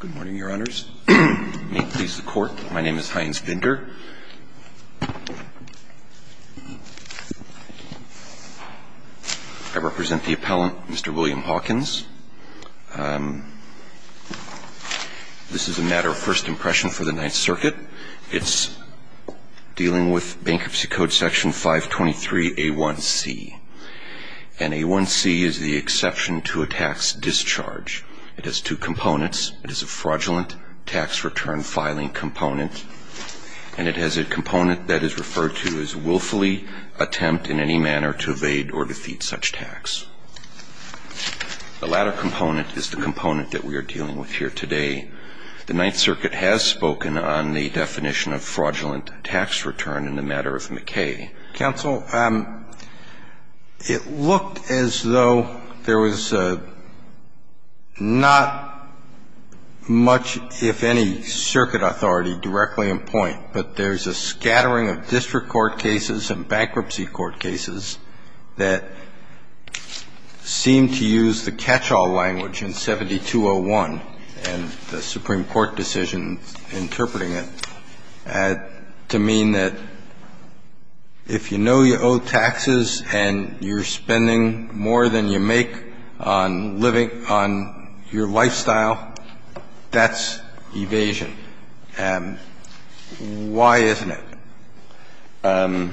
Good morning, Your Honors. May it please the Court, my name is Heinz Binder. I represent the appellant, Mr. William Hawkins. This is a matter of first impression for the Ninth Circuit. It's dealing with Bankruptcy Code Section 523A1C. And A1C is the exception to a tax discharge. It has two components. It is a fraudulent tax return filing component. And it has a component that is referred to as willfully attempt in any manner to evade or defeat such tax. The latter component is the component that we are dealing with here today. The Ninth Circuit has spoken on the definition of fraudulent tax return in the matter of McKay. Counsel, it looked as though there was not much, if any, circuit authority directly in point. But there's a scattering of district court cases and bankruptcy court cases that seem to use the catch-all language in 7201 and the Supreme Court decision interpreting it to mean that if you know you owe taxes and you're spending more than you make on living on your lifestyle, that's evasion. Why isn't it? The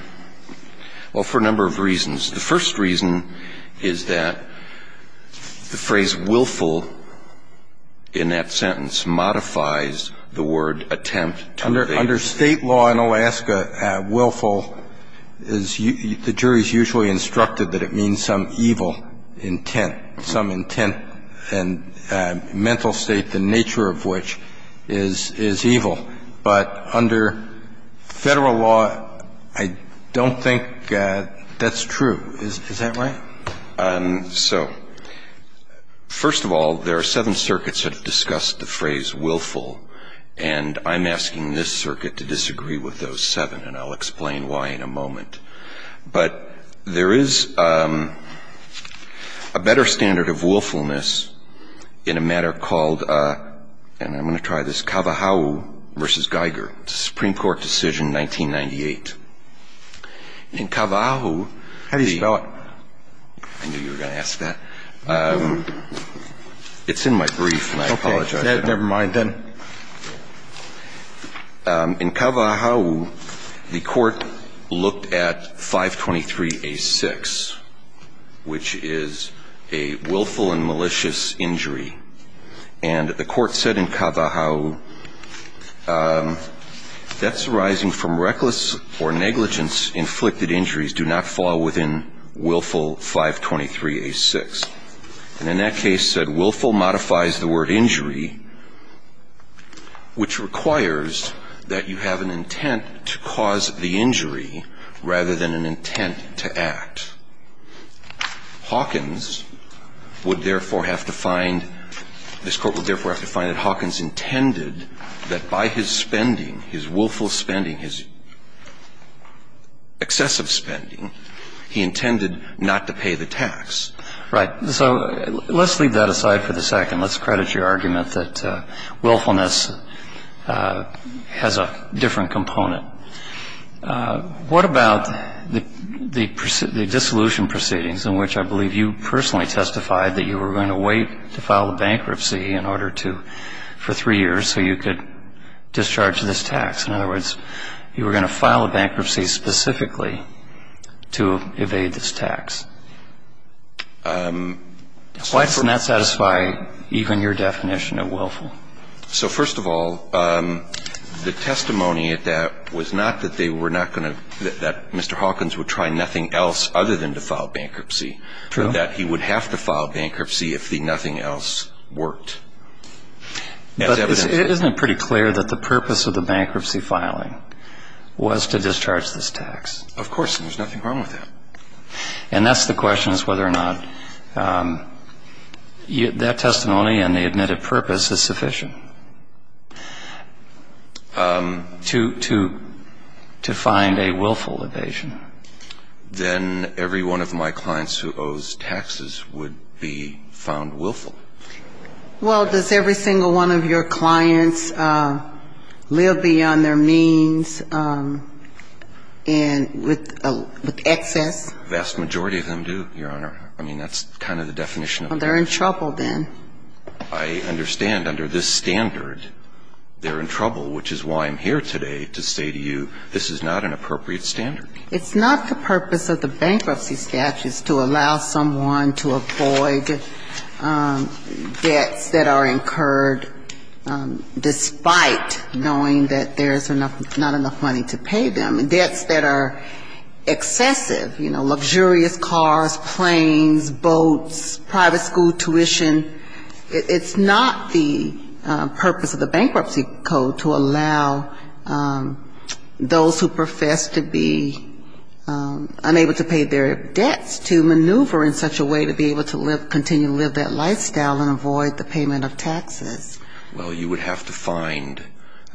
first reason is that the phrase willful in that sentence modifies the word attempt to evade. Under State law in Alaska, willful is the jury's usually instructed that it means some evil intent, some intent and mental state, the nature of which is evil. But under Federal law, I don't think that's true. Is that right? So, first of all, there are seven circuits that have discussed the phrase willful, and I'm asking this circuit to disagree with those seven, and I'll explain why in a moment. But there is a better standard of willfulness in a matter called, and I'm going to try this, Kavaahu v. Geiger, Supreme Court decision 1998. In Kavaahu, the ---- How do you spell it? I knew you were going to ask that. It's in my brief, and I apologize. Okay. Never mind then. In Kavaahu, the Court looked at 523A6, which is a willful and malicious injury. And the Court said in Kavaahu, debts arising from reckless or negligence-inflicted injuries do not fall within willful 523A6. And in that case, it said willful modifies the word injury, which requires that you have an intent to cause the injury rather than an intent to act. And in that case, Hawkins would therefore have to find, this Court would therefore have to find that Hawkins intended that by his spending, his willful spending, his excessive spending, he intended not to pay the tax. Right. So let's leave that aside for the second. Let's credit your argument that willfulness has a different component. What about the dissolution proceedings in which I believe you personally testified that you were going to wait to file a bankruptcy in order to, for three years so you could discharge this tax? In other words, you were going to file a bankruptcy specifically to evade this tax. Why doesn't that satisfy even your definition of willful? So first of all, the testimony at that was not that they were not going to, that Mr. Hawkins would try nothing else other than to file bankruptcy. True. That he would have to file bankruptcy if the nothing else worked. But isn't it pretty clear that the purpose of the bankruptcy filing was to discharge this tax? Of course. And there's nothing wrong with that. And that's the question is whether or not that testimony and the admitted purpose is sufficient to find a willful evasion. Then every one of my clients who owes taxes would be found willful. Well, does every single one of your clients live beyond their means and with excess? The vast majority of them do, Your Honor. I mean, that's kind of the definition of it. Well, they're in trouble then. I understand under this standard they're in trouble, which is why I'm here today to say to you this is not an appropriate standard. It's not the purpose of the bankruptcy statute to allow someone to avoid debts that are incurred despite knowing that there's not enough money to pay them. Debts that are excessive, you know, luxurious cars, planes, boats, private school tuition, it's not the purpose of the bankruptcy code to allow those who profess to be unable to pay their debts to maneuver in such a way to be able to continue to live that lifestyle and avoid the payment of taxes. Well, you would have to find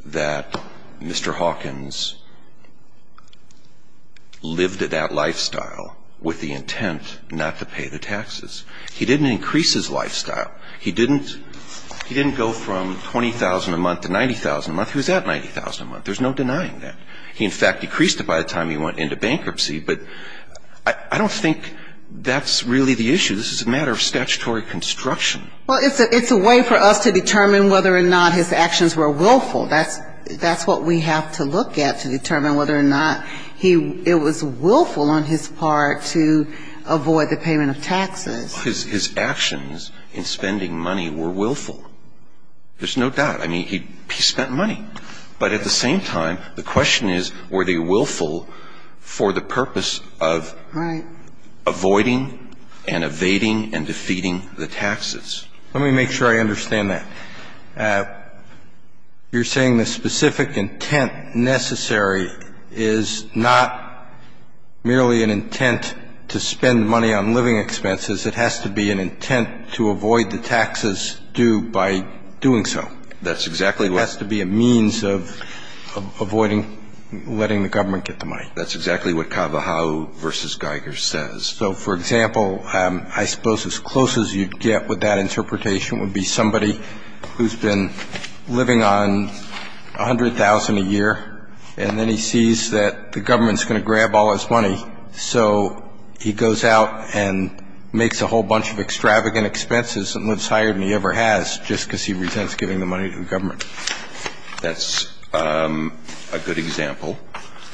that Mr. Hawkins lived that lifestyle with the intent not to pay the taxes. He didn't increase his lifestyle. He didn't go from $20,000 a month to $90,000 a month. He was at $90,000 a month. There's no denying that. He, in fact, decreased it by the time he went into bankruptcy. But I don't think that's really the issue. This is a matter of statutory construction. Well, it's a way for us to determine whether or not his actions were willful. That's what we have to look at to determine whether or not it was willful on his part to avoid the payment of taxes. His actions in spending money were willful. There's no doubt. I mean, he spent money. But at the same time, the question is, were they willful for the purpose of avoiding and evading and defeating the taxes? Let me make sure I understand that. You're saying the specific intent necessary is not merely an intent to spend money on living expenses. It has to be an intent to avoid the taxes due by doing so. That's exactly what — It has to be a means of avoiding letting the government get the money. That's exactly what Kava Hau v. Geiger says. So, for example, I suppose as close as you'd get with that interpretation would be somebody who's been living on $100,000 a year, and then he sees that the government's going to grab all his money. So he goes out and makes a whole bunch of extravagant expenses and lives higher than he ever has just because he resents giving the money to the government. That's a good example.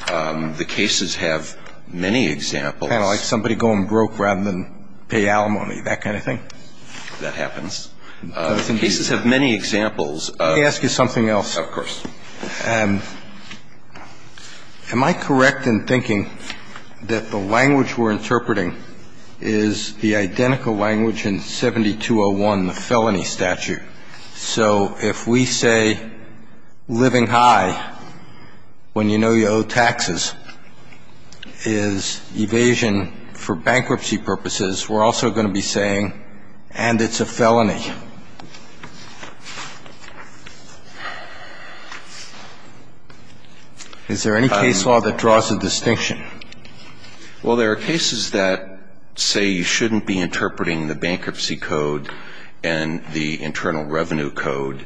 The cases have many examples. Kind of like somebody going broke rather than pay alimony, that kind of thing. That happens. The cases have many examples. Let me ask you something else. Of course. Am I correct in thinking that the language we're interpreting is the identical language in 7201, the felony statute? So if we say living high when you know you owe taxes is evasion for bankruptcy purposes, we're also going to be saying, and it's a felony. Is there any case law that draws a distinction? Well, there are cases that say you shouldn't be interpreting the bankruptcy code and the internal revenue code.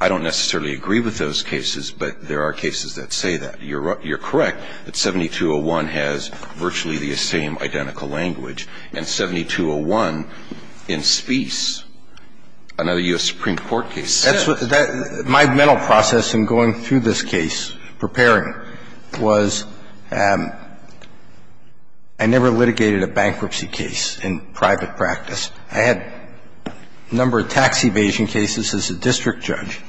I don't necessarily agree with those cases, but there are cases that say that. You're correct that 7201 has virtually the same identical language. And 7201 in Spies, another U.S. Supreme Court case. My mental process in going through this case, preparing, was I never litigated a bankruptcy case in private practice. I had a number of tax evasion cases as a district judge.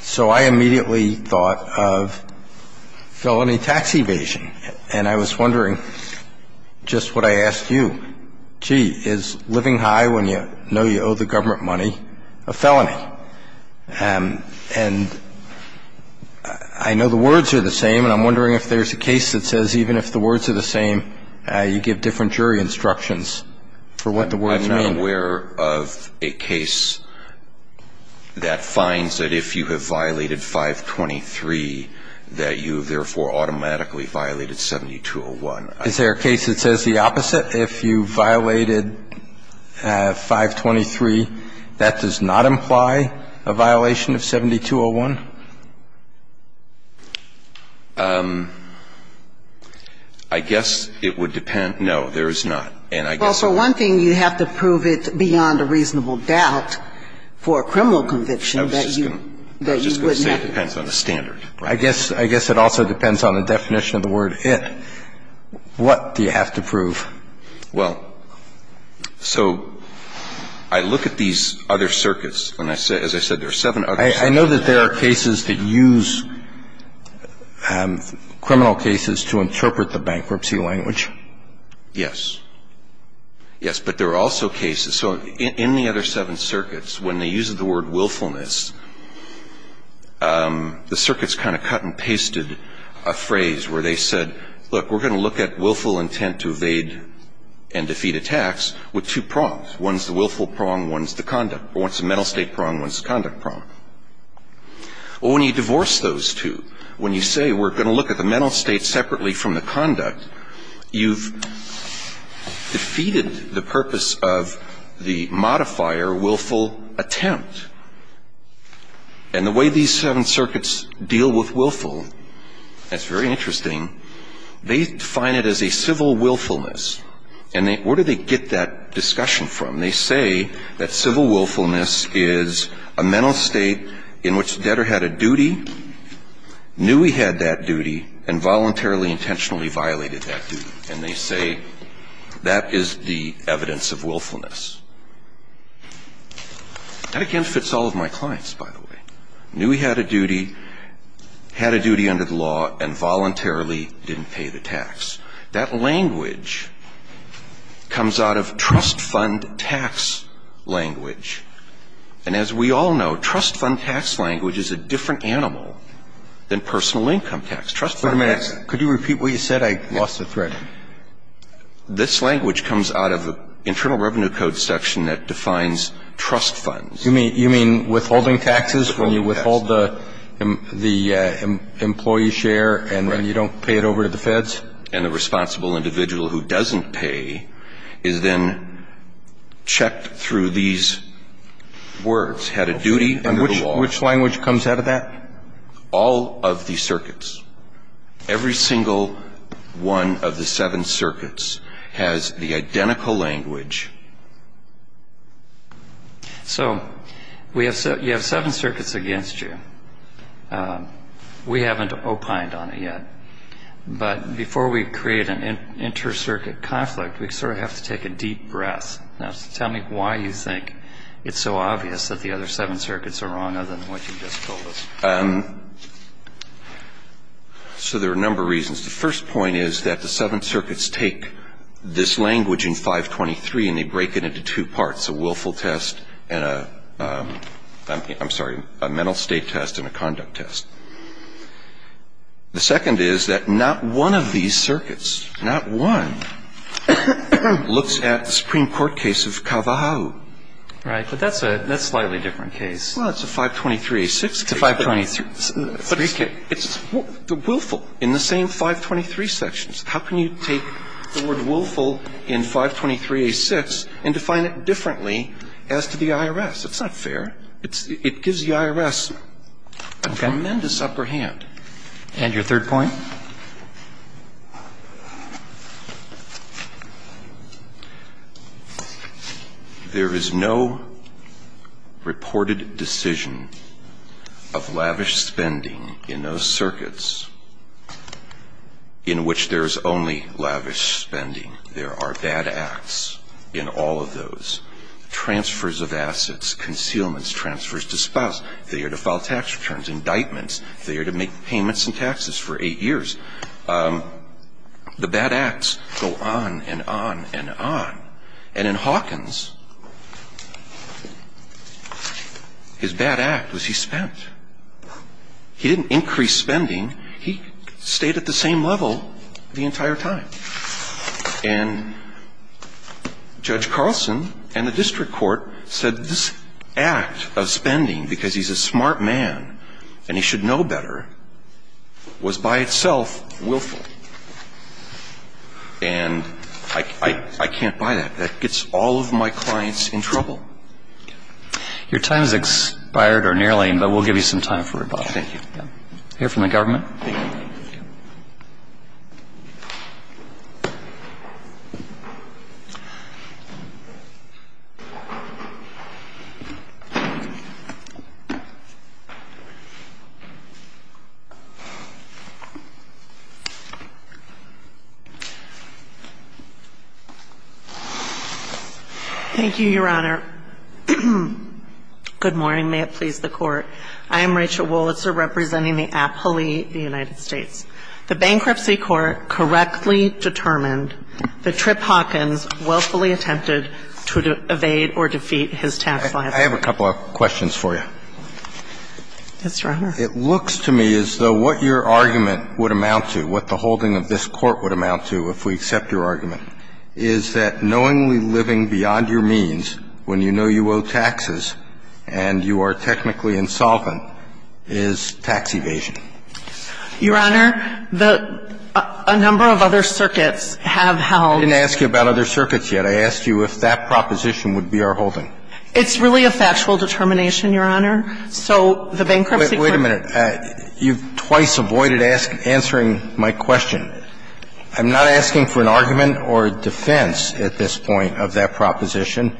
So I immediately thought of felony tax evasion. And I was wondering just what I asked you. Gee, is living high when you know you owe the government money a felony? And I know the words are the same, and I'm wondering if there's a case that says even if the words are the same, you give different jury instructions for what the words mean. I'm not aware of a case that finds that if you have violated 523, that you have therefore automatically violated 7201. Is there a case that says the opposite, if you violated 523, that does not imply a violation of 7201? I guess it would depend. No, there is not. And I guess it's not. Well, so one thing, you have to prove it beyond a reasonable doubt for a criminal conviction that you wouldn't have to. I was just going to say it depends on the standard. I guess it also depends on the definition of the word it. What do you have to prove? Well, so I look at these other circuits. As I said, there are seven other circuits. I know that there are cases that use criminal cases to interpret the bankruptcy language. Yes. Yes, but there are also cases. So in the other seven circuits, when they use the word willfulness, the circuits kind of cut and pasted a phrase where they said, look, we're going to look at willful intent to evade and defeat attacks with two prongs. One's the willful prong, one's the conduct. One's the mental state prong, one's the conduct prong. Well, when you divorce those two, when you say we're going to look at the mental state separately from the conduct, you've defeated the purpose of the modifier willful attempt. And the way these seven circuits deal with willful, that's very interesting, they define it as a civil willfulness. And where do they get that discussion from? They say that civil willfulness is a mental state in which the debtor had a duty, knew he had that duty, and voluntarily, intentionally violated that duty. And they say that is the evidence of willfulness. That, again, fits all of my clients, by the way. Knew he had a duty, had a duty under the law, and voluntarily didn't pay the tax. That language comes out of trust fund tax language. And as we all know, trust fund tax language is a different animal than personal income tax. Trust fund tax ---- Wait a minute. Could you repeat what you said? I lost the thread. This language comes out of the Internal Revenue Code section that defines trust funds. You mean withholding taxes when you withhold the employee share and then you don't pay it over to the Feds? And the responsible individual who doesn't pay is then checked through these words, had a duty under the law. Which language comes out of that? All of these circuits. Every single one of the seven circuits has the identical language. So you have seven circuits against you. We haven't opined on it yet. But before we create an inter-circuit conflict, we sort of have to take a deep breath. Now, tell me why you think it's so obvious that the other seven circuits are wrong, other than what you just told us. So there are a number of reasons. The first point is that the seven circuits take this language in 523 and they break it into two parts, a willful test and a ---- I'm sorry, a mental state test and a conduct test. The second is that not one of these circuits, not one, looks at the Supreme Court case of Kavahau. Right. Well, it's a 523A6 case. It's a 523. But it's the willful in the same 523 sections. How can you take the word willful in 523A6 and define it differently as to the IRS? It's not fair. It gives the IRS a tremendous upper hand. And your third point? There is no reported decision of lavish spending in those circuits in which there is only lavish spending. There are bad acts in all of those, transfers of assets, concealments, transfers to spouses, failure to file tax returns, indictments, failure to make payments and taxes for eight years. The bad acts go on and on and on. And in Hawkins, his bad act was he spent. He didn't increase spending. He stayed at the same level the entire time. And Judge Carlson and the district court said this act of spending because he's a smart man and he should know better was by itself willful. And I can't buy that. That gets all of my clients in trouble. Your time has expired or nearly, but we'll give you some time for rebuttal. Thank you. Hear from the government. Thank you. Thank you, Your Honor. Good morning. May it please the Court. I am Rachel Wollitzer representing the Appalachian United States. The Bankruptcy Court correctly determined that Tripp Hawkins willfully attempted to evade or defeat his tax liability. I have a couple of questions for you. Yes, Your Honor. It looks to me as though what your argument would amount to, what the holding of this Court would amount to if we accept your argument, is that knowingly living beyond your means when you know you owe taxes and you are technically insolvent is tax evasion. Your Honor, a number of other circuits have held. I didn't ask you about other circuits yet. I asked you if that proposition would be our holding. It's really a factual determination, Your Honor. So the Bankruptcy Court ---- Wait a minute. You've twice avoided answering my question. I'm not asking for an argument or a defense at this point of that proposition.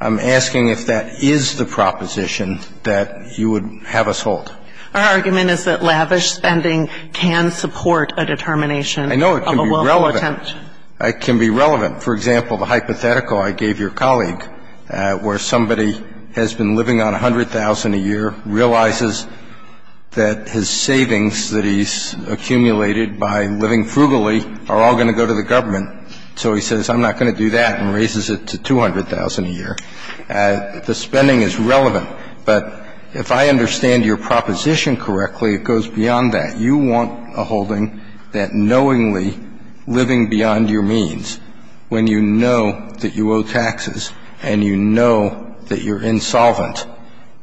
I'm asking if that is the proposition that you would have us hold. Our argument is that lavish spending can support a determination of a willful attempt. I know it can be relevant. It can be relevant. For example, the hypothetical I gave your colleague where somebody has been living on $100,000 a year, realizes that his savings that he's accumulated by living frugally are all going to go to the government. So he says, I'm not going to do that, and raises it to $200,000 a year. The spending is relevant. But if I understand your proposition correctly, it goes beyond that. So you're saying that you want a holding that knowingly living beyond your means when you know that you owe taxes and you know that you're insolvent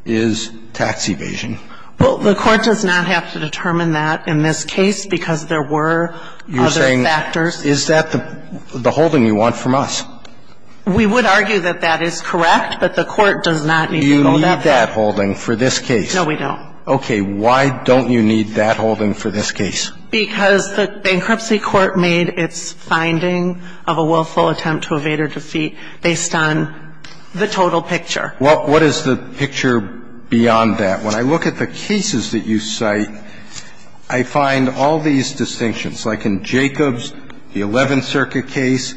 is tax evasion? Well, the Court does not have to determine that in this case because there were other factors. You're saying is that the holding you want from us? We would argue that that is correct, but the Court does not need to know that. You need that holding for this case. No, we don't. Okay. Why don't you need that holding for this case? Because the bankruptcy court made its finding of a willful attempt to evade or defeat based on the total picture. Well, what is the picture beyond that? When I look at the cases that you cite, I find all these distinctions. Like in Jacob's, the Eleventh Circuit case,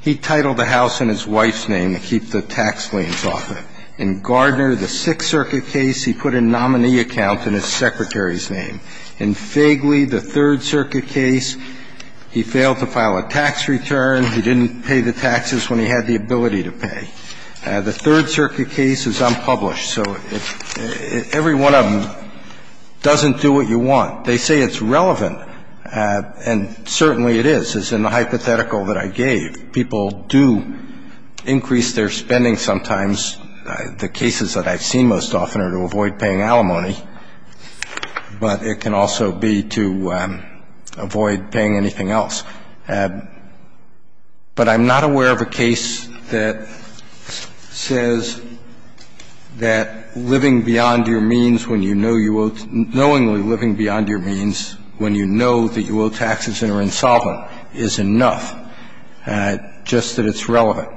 he titled the house in his wife's name to keep the tax liens off it. In Gardner, the Sixth Circuit case, he put a nominee account in his secretary's name. In Fegley, the Third Circuit case, he failed to file a tax return. He didn't pay the taxes when he had the ability to pay. The Third Circuit case is unpublished. So every one of them doesn't do what you want. They say it's relevant, and certainly it is, as in the hypothetical that I gave. People do increase their spending sometimes. The cases that I've seen most often are to avoid paying alimony, but it can also be to avoid paying anything else. But I'm not aware of a case that says that living beyond your means when you know you owe taxes, knowingly living beyond your means when you know that you owe taxes and are insolvent is enough. Just that it's relevant.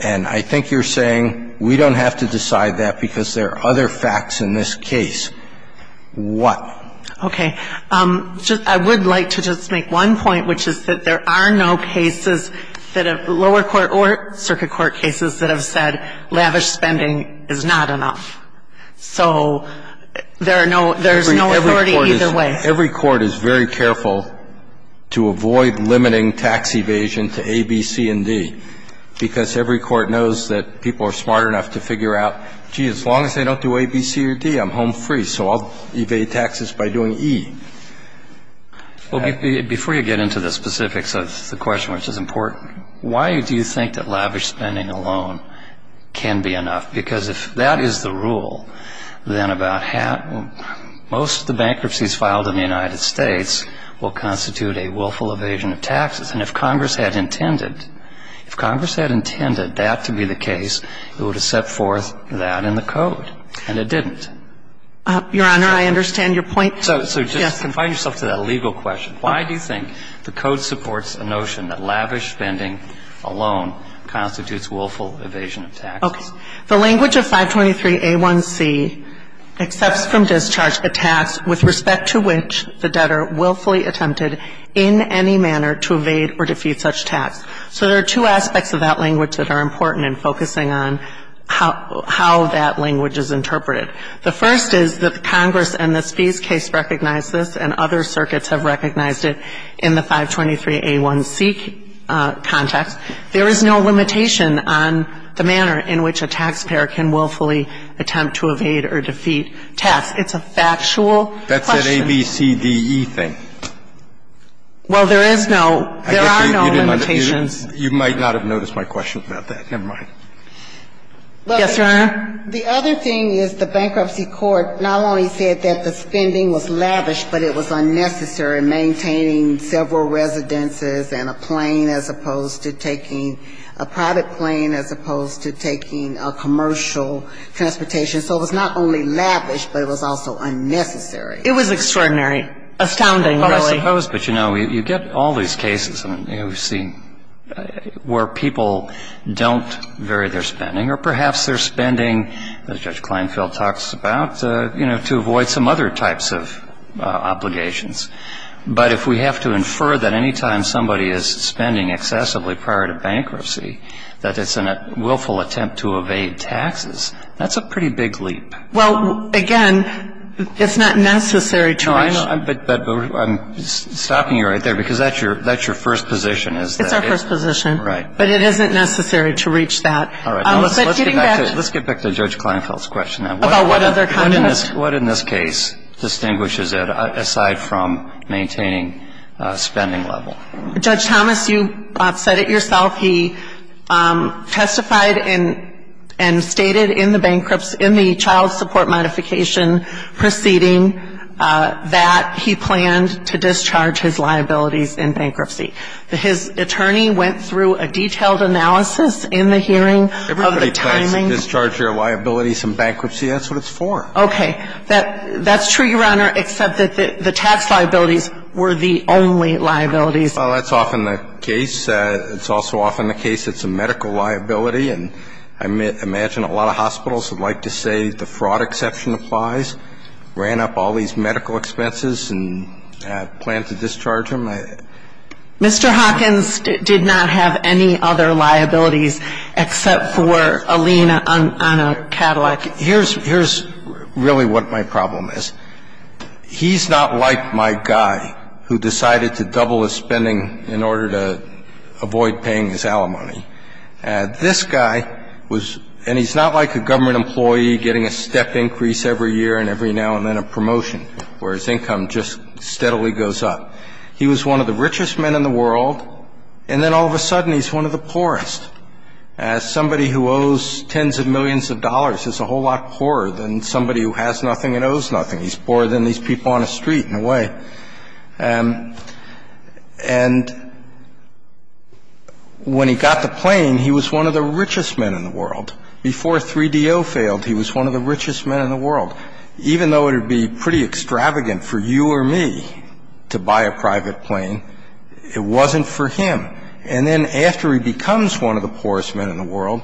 And I think you're saying we don't have to decide that because there are other facts in this case. What? Okay. I would like to just make one point, which is that there are no cases that have lower court or circuit court cases that have said lavish spending is not enough. So there are no – there's no authority either way. Every court is very careful to avoid limiting tax evasion to A, B, C, and D because every court knows that people are smart enough to figure out, gee, as long as they don't do A, B, C, or D, I'm home free, so I'll evade taxes by doing E. Well, before you get into the specifics of the question, which is important, why do you think that lavish spending alone can be enough? Because if that is the rule, then about half – most of the bankruptcies filed in the United States will constitute a willful evasion of taxes. And if Congress had intended – if Congress had intended that to be the case, it would have set forth that in the Code, and it didn't. Your Honor, I understand your point. So just confine yourself to that legal question. Why do you think the Code supports a notion that lavish spending alone constitutes willful evasion of taxes? Okay. The language of 523A1C accepts from discharge a tax with respect to which the debtor willfully attempted in any manner to evade or defeat such tax. So there are two aspects of that language that are important in focusing on how that language is interpreted. The first is that Congress and the Spies case recognize this, and other circuits have recognized it in the 523A1C context. There is no limitation on the manner in which a taxpayer can willfully attempt to evade or defeat tax. It's a factual question. That's that A, B, C, D, E thing. Well, there is no – there are no limitations. You might not have noticed my question about that. Never mind. Yes, Your Honor. The other thing is the Bankruptcy Court not only said that the spending was lavish, but it was unnecessary, maintaining several residences and a plane as opposed to taking – a private plane as opposed to taking a commercial transportation. So it was not only lavish, but it was also unnecessary. It was extraordinary. Astounding, really. Well, I suppose. But, you know, you get all these cases, you know, where people don't vary their spending, or perhaps their spending, as Judge Kleinfeld talks about, you know, to avoid some other types of obligations. But if we have to infer that any time somebody is spending excessively prior to bankruptcy that it's a willful attempt to evade taxes, that's a pretty big leap. Well, again, it's not necessary to reach – No, I know. But I'm stopping you right there because that's your first position is that – It's our first position. Right. But it isn't necessary to reach that. All right. But getting back to – Let's get back to Judge Kleinfeld's question then. About what other kind of – What in this case distinguishes it aside from maintaining spending level? Judge Thomas, you said it yourself. He testified and stated in the bankruptcy – in the child support modification proceeding that he planned to discharge his liabilities in bankruptcy. His attorney went through a detailed analysis in the hearing of the timing – Everybody plans to discharge their liabilities in bankruptcy. That's what it's for. Okay. That's true, Your Honor, except that the tax liabilities were the only liabilities. Well, that's often the case. It's also often the case it's a medical liability. And I imagine a lot of hospitals would like to say the fraud exception applies, ran up all these medical expenses and planned to discharge them. Mr. Hawkins did not have any other liabilities except for a lien on a Cadillac. Here's – here's really what my problem is. He's not like my guy who decided to double his spending in order to avoid paying his alimony. This guy was – and he's not like a government employee getting a step increase every year and every now and then a promotion where his income just steadily goes up. He was one of the richest men in the world, and then all of a sudden he's one of the poorest. As somebody who owes tens of millions of dollars, he's a whole lot poorer than somebody who has nothing and owes nothing. He's poorer than these people on the street in a way. And when he got the plane, he was one of the richest men in the world. Before 3DO failed, he was one of the richest men in the world. Even though it would be pretty extravagant for you or me to buy a private plane, it wasn't for him. And then after he becomes one of the poorest men in the world,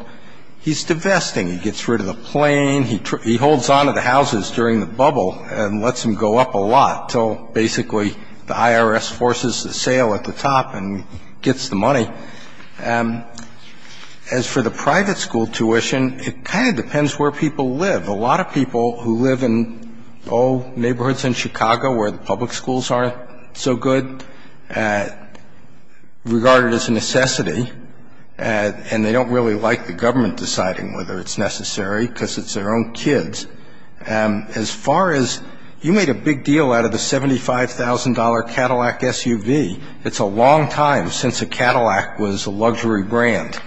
he's divesting. He gets rid of the plane. He holds on to the houses during the bubble and lets them go up a lot until basically the IRS forces a sale at the top and gets the money. As for the private school tuition, it kind of depends where people live. A lot of people who live in old neighborhoods in Chicago where the public schools aren't so good regard it as a necessity, and they don't really like the government deciding whether it's necessary because it's their own kids. As far as you made a big deal out of the $75,000 Cadillac SUV, it's a long time since a Cadillac was a luxury brand.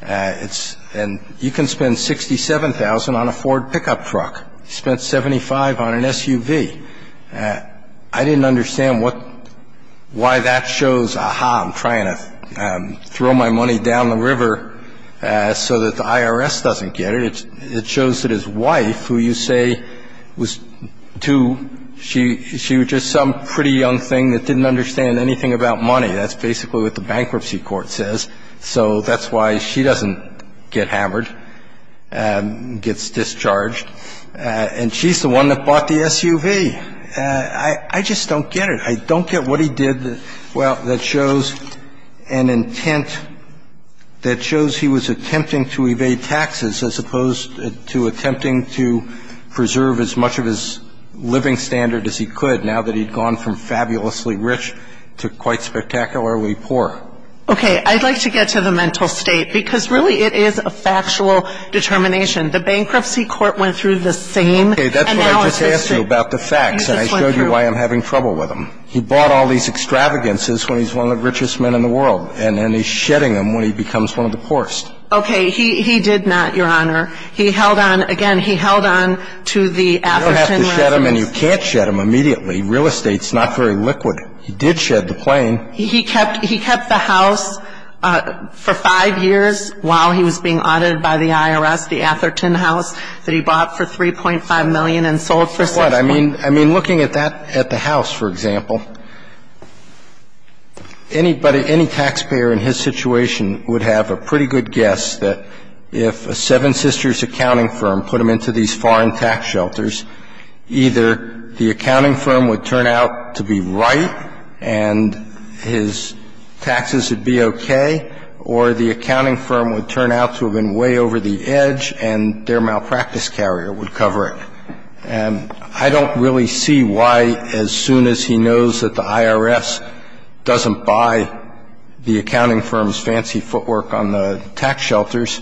And you can spend $67,000 on a Ford pickup truck. You can spend $75,000 on an SUV. I didn't understand why that shows, aha, I'm trying to throw my money down the river so that the IRS doesn't get it. It shows that his wife, who you say was too ‑‑ she was just some pretty young thing that didn't understand anything about money. That's basically what the bankruptcy court says. So that's why she doesn't get hammered, gets discharged. And she's the one that bought the SUV. I just don't get it. I don't get what he did that shows an intent, that shows he was attempting to evade taxes as opposed to attempting to preserve as much of his living standard as he could, now that he'd gone from fabulously rich to quite spectacularly poor. Okay. I'd like to get to the mental state, because really it is a factual determination. The bankruptcy court went through the same analysis. Okay. That's what I just asked you about, the facts. And I showed you why I'm having trouble with them. He bought all these extravagances when he's one of the richest men in the world. And then he's shedding them when he becomes one of the poorest. Okay. He did not, Your Honor. He held on. Again, he held on to the Atherton license. You can't shed them and you can't shed them immediately. Real estate is not very liquid. He did shed the plane. He kept the house for five years while he was being audited by the IRS, the Atherton house, that he bought for $3.5 million and sold for $6 million. I mean, looking at that, at the house, for example, anybody, any taxpayer in his situation would have a pretty good guess that if a Seven Sisters accounting firm put him into these foreign tax shelters, either the accounting firm would turn out to be right and his taxes would be okay, or the accounting firm would turn out to have been way over the edge and their malpractice carrier would cover it. And I don't really see why, as soon as he knows that the IRS doesn't buy the accounting firm's fancy footwork on the tax shelters,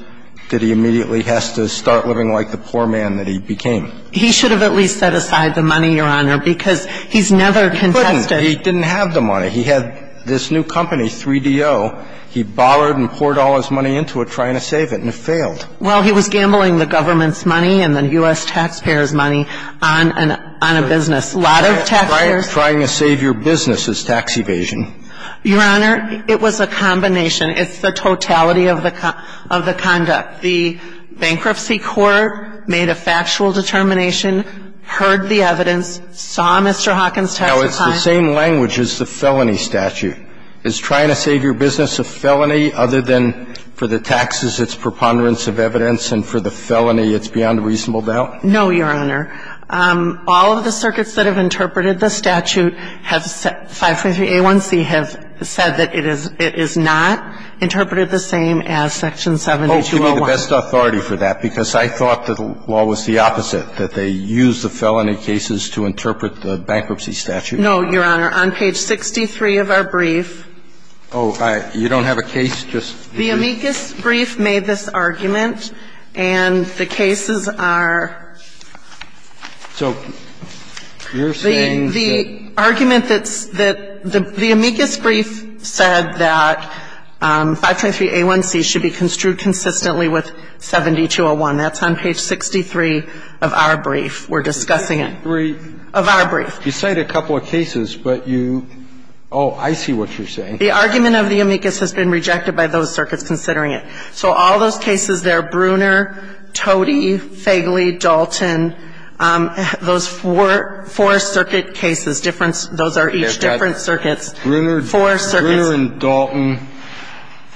that he immediately has to start living like the poor man that he became. He should have at least set aside the money, Your Honor, because he's never contested. He couldn't. He didn't have the money. He had this new company, 3DO. He bothered and poured all his money into it trying to save it, and it failed. Well, he was gambling the government's money and the U.S. taxpayers' money on a business. A lot of taxpayers' money. Trying to save your business is tax evasion. Your Honor, it was a combination. It's the totality of the conduct. The bankruptcy court made a factual determination, heard the evidence, saw Mr. Hawkins' tax decline. Now, it's the same language as the felony statute. Is trying to save your business a felony other than for the taxes, it's preponderance of evidence, and for the felony, it's beyond reasonable doubt? No, Your Honor. All of the circuits that have interpreted the statute have said, 553A1C, have said that it is not interpreted the same as Section 7201. Oh, give me the best authority for that, because I thought the law was the opposite, that they used the felony cases to interpret the bankruptcy statute. No, Your Honor. On page 63 of our brief. Oh, you don't have a case just here? The amicus brief made this argument, and the cases are the argument that the amicus brief said that 523A1C should be construed consistently with 7201. That's on page 63 of our brief. We're discussing it. Of our brief. You cite a couple of cases, but you – oh, I see what you're saying. The argument of the amicus has been rejected by those circuits considering it. So all those cases there, Bruner, Totey, Fegley, Dalton, those four circuit cases, different – those are each different circuits. Bruner and Dalton,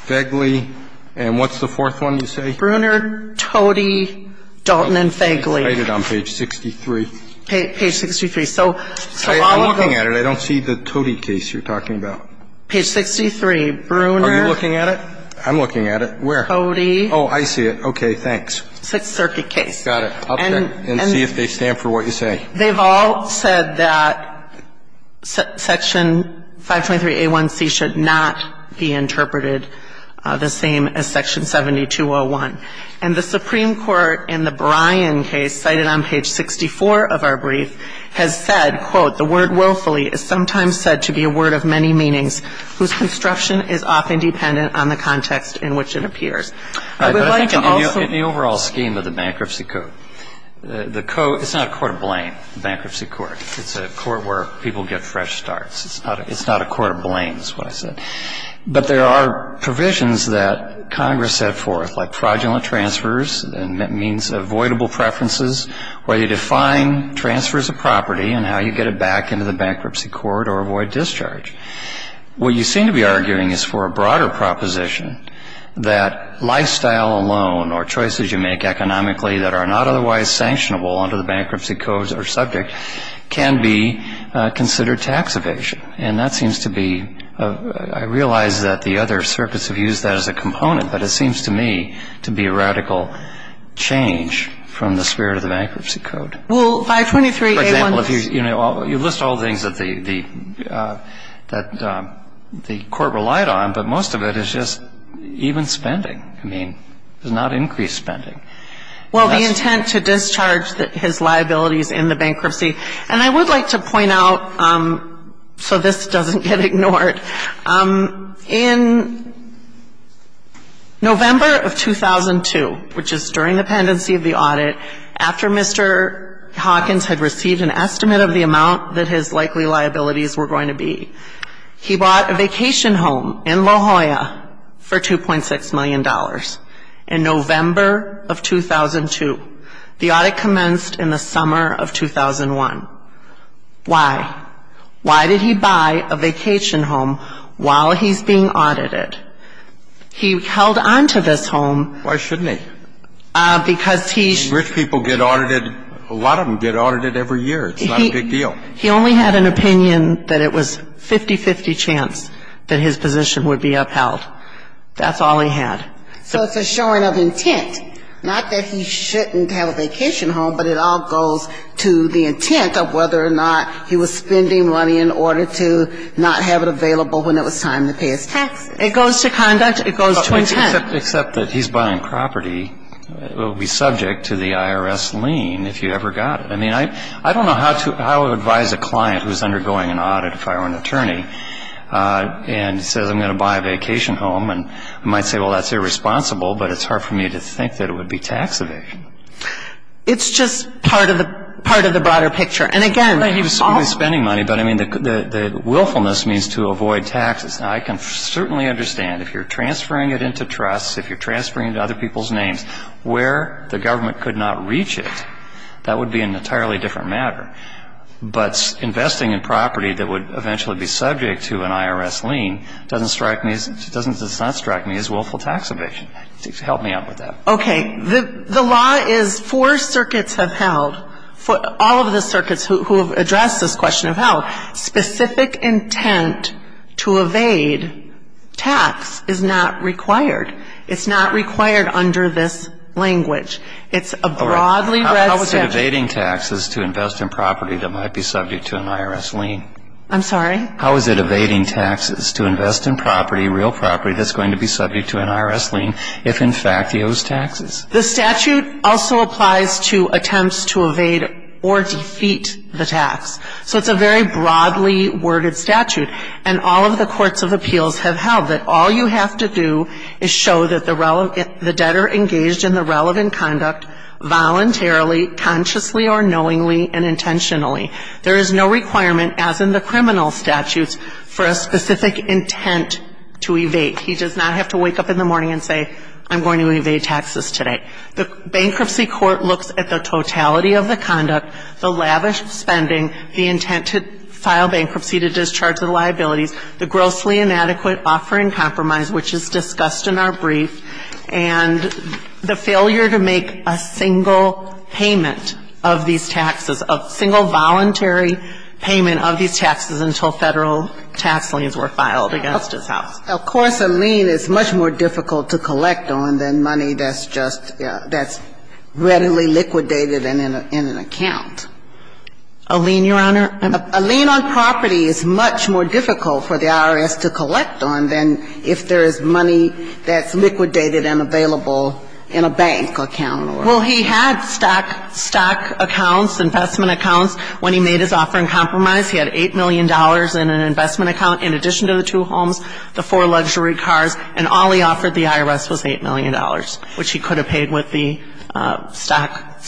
Fegley, and what's the fourth one you say? Bruner, Totey, Dalton, and Fegley. Cite it on page 63. Page 63. I'm looking at it. I don't see the Totey case you're talking about. Page 63. Bruner. Are you looking at it? I'm looking at it. Where? Totey. Oh, I see it. Okay. Thanks. Six circuit case. Got it. I'll check and see if they stand for what you say. They've all said that section 523A1C should not be interpreted the same as section 7201. And the Supreme Court in the Bryan case cited on page 64 of our brief has said, quote, The word willfully is sometimes said to be a word of many meanings, whose construction is often dependent on the context in which it appears. I would like to also – In the overall scheme of the bankruptcy code, the code – it's not a court of blame, the bankruptcy court. It's a court where people get fresh starts. It's not a court of blame is what I said. But there are provisions that Congress set forth, like fraudulent transfers, and that means avoidable preferences, where you define transfers of property and how you get it back into the bankruptcy court or avoid discharge. What you seem to be arguing is for a broader proposition that lifestyle alone or choices you make economically that are not otherwise sanctionable under the bankruptcy codes or subject can be considered tax evasion. And that seems to be – I realize that the other circuits have used that as a component, but it seems to me to be a radical change from the spirit of the bankruptcy code. Well, 523A1 – For example, if you – you list all the things that the court relied on, but most of it is just even spending. I mean, it's not increased spending. Well, the intent to discharge his liabilities in the bankruptcy – and I would like to point out, so this doesn't get ignored, in November of 2002, which is during the pendency of the audit, after Mr. Hawkins had received an estimate of the amount that his likely liabilities were going to be, he bought a vacation home in La Jolla for $2.6 million in November of 2002. The audit commenced in the summer of 2001. Why? Why did he buy a vacation home while he's being audited? He held on to this home – Why shouldn't he? Because he – Rich people get audited. A lot of them get audited every year. It's not a big deal. He only had an opinion that it was 50-50 chance that his position would be upheld. That's all he had. So it's a showing of intent. Not that he shouldn't have a vacation home, but it all goes to the intent of whether or not he was spending money in order to not have it available when it was time to pay his taxes. It goes to conduct. It goes to intent. Except that he's buying property that would be subject to the IRS lien if you ever got it. I mean, I don't know how to advise a client who is undergoing an audit, if I were an attorney, and says, I'm going to buy a vacation home. And I might say, well, that's irresponsible, but it's hard for me to think that it would be tax evasion. It's just part of the broader picture. And again – He was spending money, but I mean, the willfulness means to avoid taxes. Now, I can certainly understand if you're transferring it into trusts, if you're transferring it into other people's names, where the government could not reach it. That would be an entirely different matter. But investing in property that would eventually be subject to an IRS lien doesn't strike me as willful tax evasion. Help me out with that. Okay. The law is four circuits have held, all of the circuits who have addressed this question have held, specific intent to evade tax is not required. It's not required under this language. It's a broadly read statute. How is it evading taxes to invest in property that might be subject to an IRS lien? I'm sorry? How is it evading taxes to invest in property, real property, that's going to be subject to an IRS lien if, in fact, he owes taxes? The statute also applies to attempts to evade or defeat the tax. So it's a very broadly worded statute. And all of the courts of appeals have held that all you have to do is show that the debtor engaged in the relevant conduct voluntarily, consciously or knowingly and intentionally. There is no requirement, as in the criminal statutes, for a specific intent to evade. He does not have to wake up in the morning and say, I'm going to evade taxes today. The bankruptcy court looks at the totality of the conduct, the lavish spending, the intent to file bankruptcy to discharge the liabilities, the grossly inadequate offer in compromise, which is discussed in our brief, and the failure to make a single payment of these taxes, a single voluntary payment of these taxes until Federal tax liens were filed against his house. Of course, a lien is much more difficult to collect on than money that's just, that's readily liquidated in an account. A lien, Your Honor? A lien on property is much more difficult for the IRS to collect on than if there is money that's liquidated and available in a bank account. Well, he had stock accounts, investment accounts. When he made his offer in compromise, he had $8 million in an investment account in addition to the two homes, the four luxury cars, and all he offered the IRS was $8 million, which he could have paid with the stock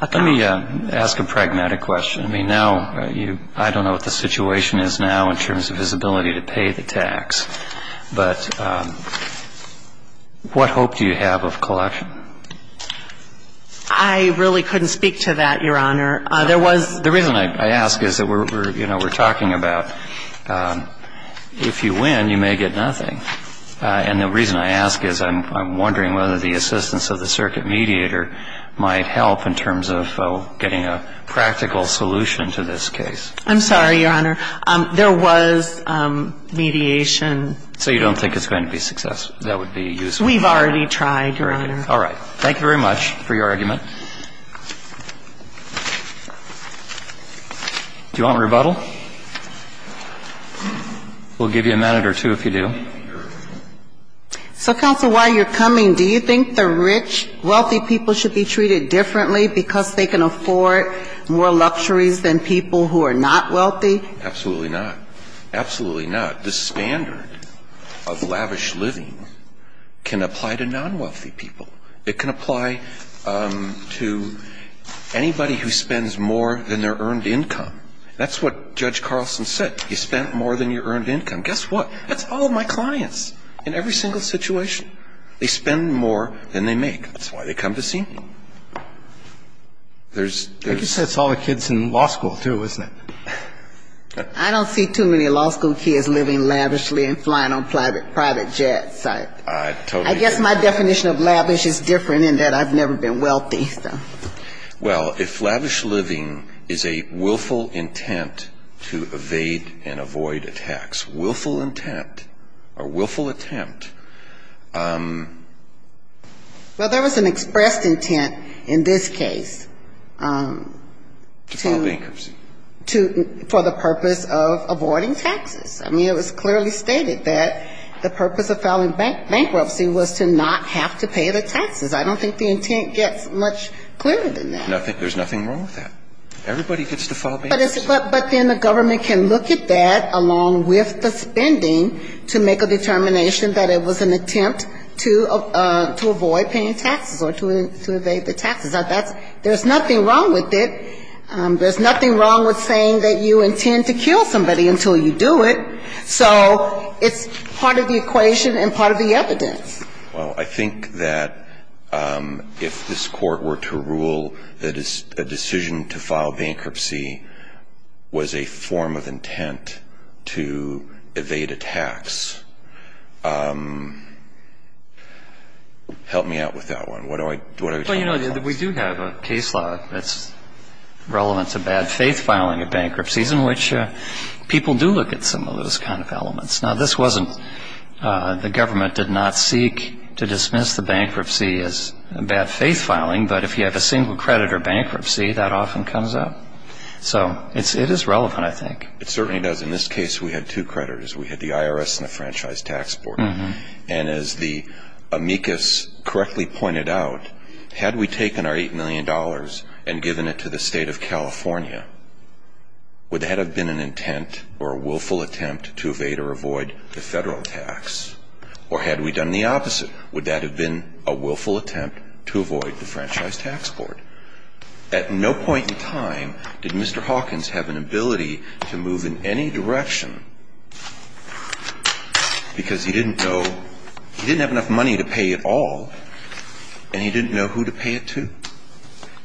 account. Let me ask a pragmatic question. I mean, now you, I don't know what the situation is now in terms of his ability to pay the tax, but what hope do you have of collection? I really couldn't speak to that, Your Honor. There was the reason I ask is that we're, you know, we're talking about if you win, you may get nothing. And the reason I ask is I'm wondering whether the assistance of the circuit mediator might help in terms of getting a practical solution to this case. I'm sorry, Your Honor. There was mediation. So you don't think it's going to be successful? That would be useful. We've already tried, Your Honor. All right. Thank you very much for your argument. Do you want rebuttal? We'll give you a minute or two if you do. So, counsel, while you're coming, do you think the rich, wealthy people should be treated differently because they can afford more luxuries than people who are not wealthy? Absolutely not. Absolutely not. The standard of lavish living can apply to non-wealthy people. It can apply to anybody who spends more than their earned income. That's what Judge Carlson said. You spend more than your earned income. Guess what? That's all my clients in every single situation. They spend more than they make. That's why they come to see me. I guess that's all the kids in law school, too, isn't it? I don't see too many law school kids living lavishly and flying on private jets. I guess my definition of lavish is different in that I've never been wealthy. Well, if lavish living is a willful intent to evade and avoid attacks, willful intent or willful attempt. Well, there was an expressed intent in this case. To file bankruptcy. For the purpose of avoiding taxes. I mean, it was clearly stated that the purpose of filing bankruptcy was to not have to pay the taxes. I don't think the intent gets much clearer than that. There's nothing wrong with that. Everybody gets to file bankruptcy. But then the government can look at that along with the spending to make a determination that it was an attempt to avoid paying taxes or to evade the taxes. There's nothing wrong with it. There's nothing wrong with saying that you intend to kill somebody until you do it. So it's part of the equation and part of the evidence. Well, I think that if this court were to rule that a decision to file bankruptcy was a form of intent to evade and avoid attacks, help me out with that one. What are we talking about? Well, you know, we do have a case law that's relevant to bad faith filing of bankruptcies, in which people do look at some of those kind of elements. Now, this wasn't the government did not seek to dismiss the bankruptcy as bad faith filing. But if you have a single credit or bankruptcy, that often comes up. So it is relevant, I think. It certainly does. In this case, we had two creditors. We had the IRS and the Franchise Tax Board. And as the amicus correctly pointed out, had we taken our $8 million and given it to the state of California, would that have been an intent or a willful attempt to evade or avoid the federal tax? Or had we done the opposite? Would that have been a willful attempt to avoid the Franchise Tax Board? At no point in time did Mr. Hawkins have an ability to move in any direction because he didn't have enough money to pay it all, and he didn't know who to pay it to.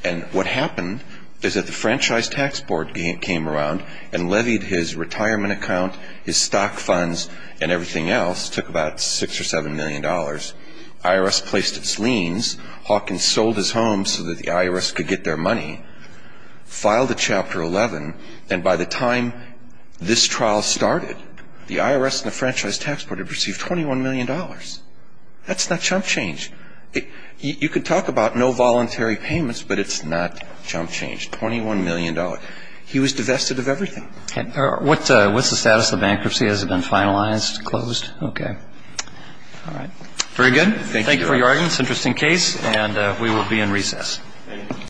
And what happened is that the Franchise Tax Board came around and levied his retirement account, his stock funds, and everything else, took about $6 or $7 million. IRS placed its liens, Hawkins sold his home so that the IRS could get their money, filed a Chapter 11, and by the time this trial started, the IRS and the Franchise Tax Board had received $21 million. That's not chump change. You could talk about no voluntary payments, but it's not chump change. $21 million. He was divested of everything. What's the status of the bankruptcy? Has it been finalized, closed? Okay. All right. Very good. Thank you. Thank you for your audience. Interesting case. And we will be in recess.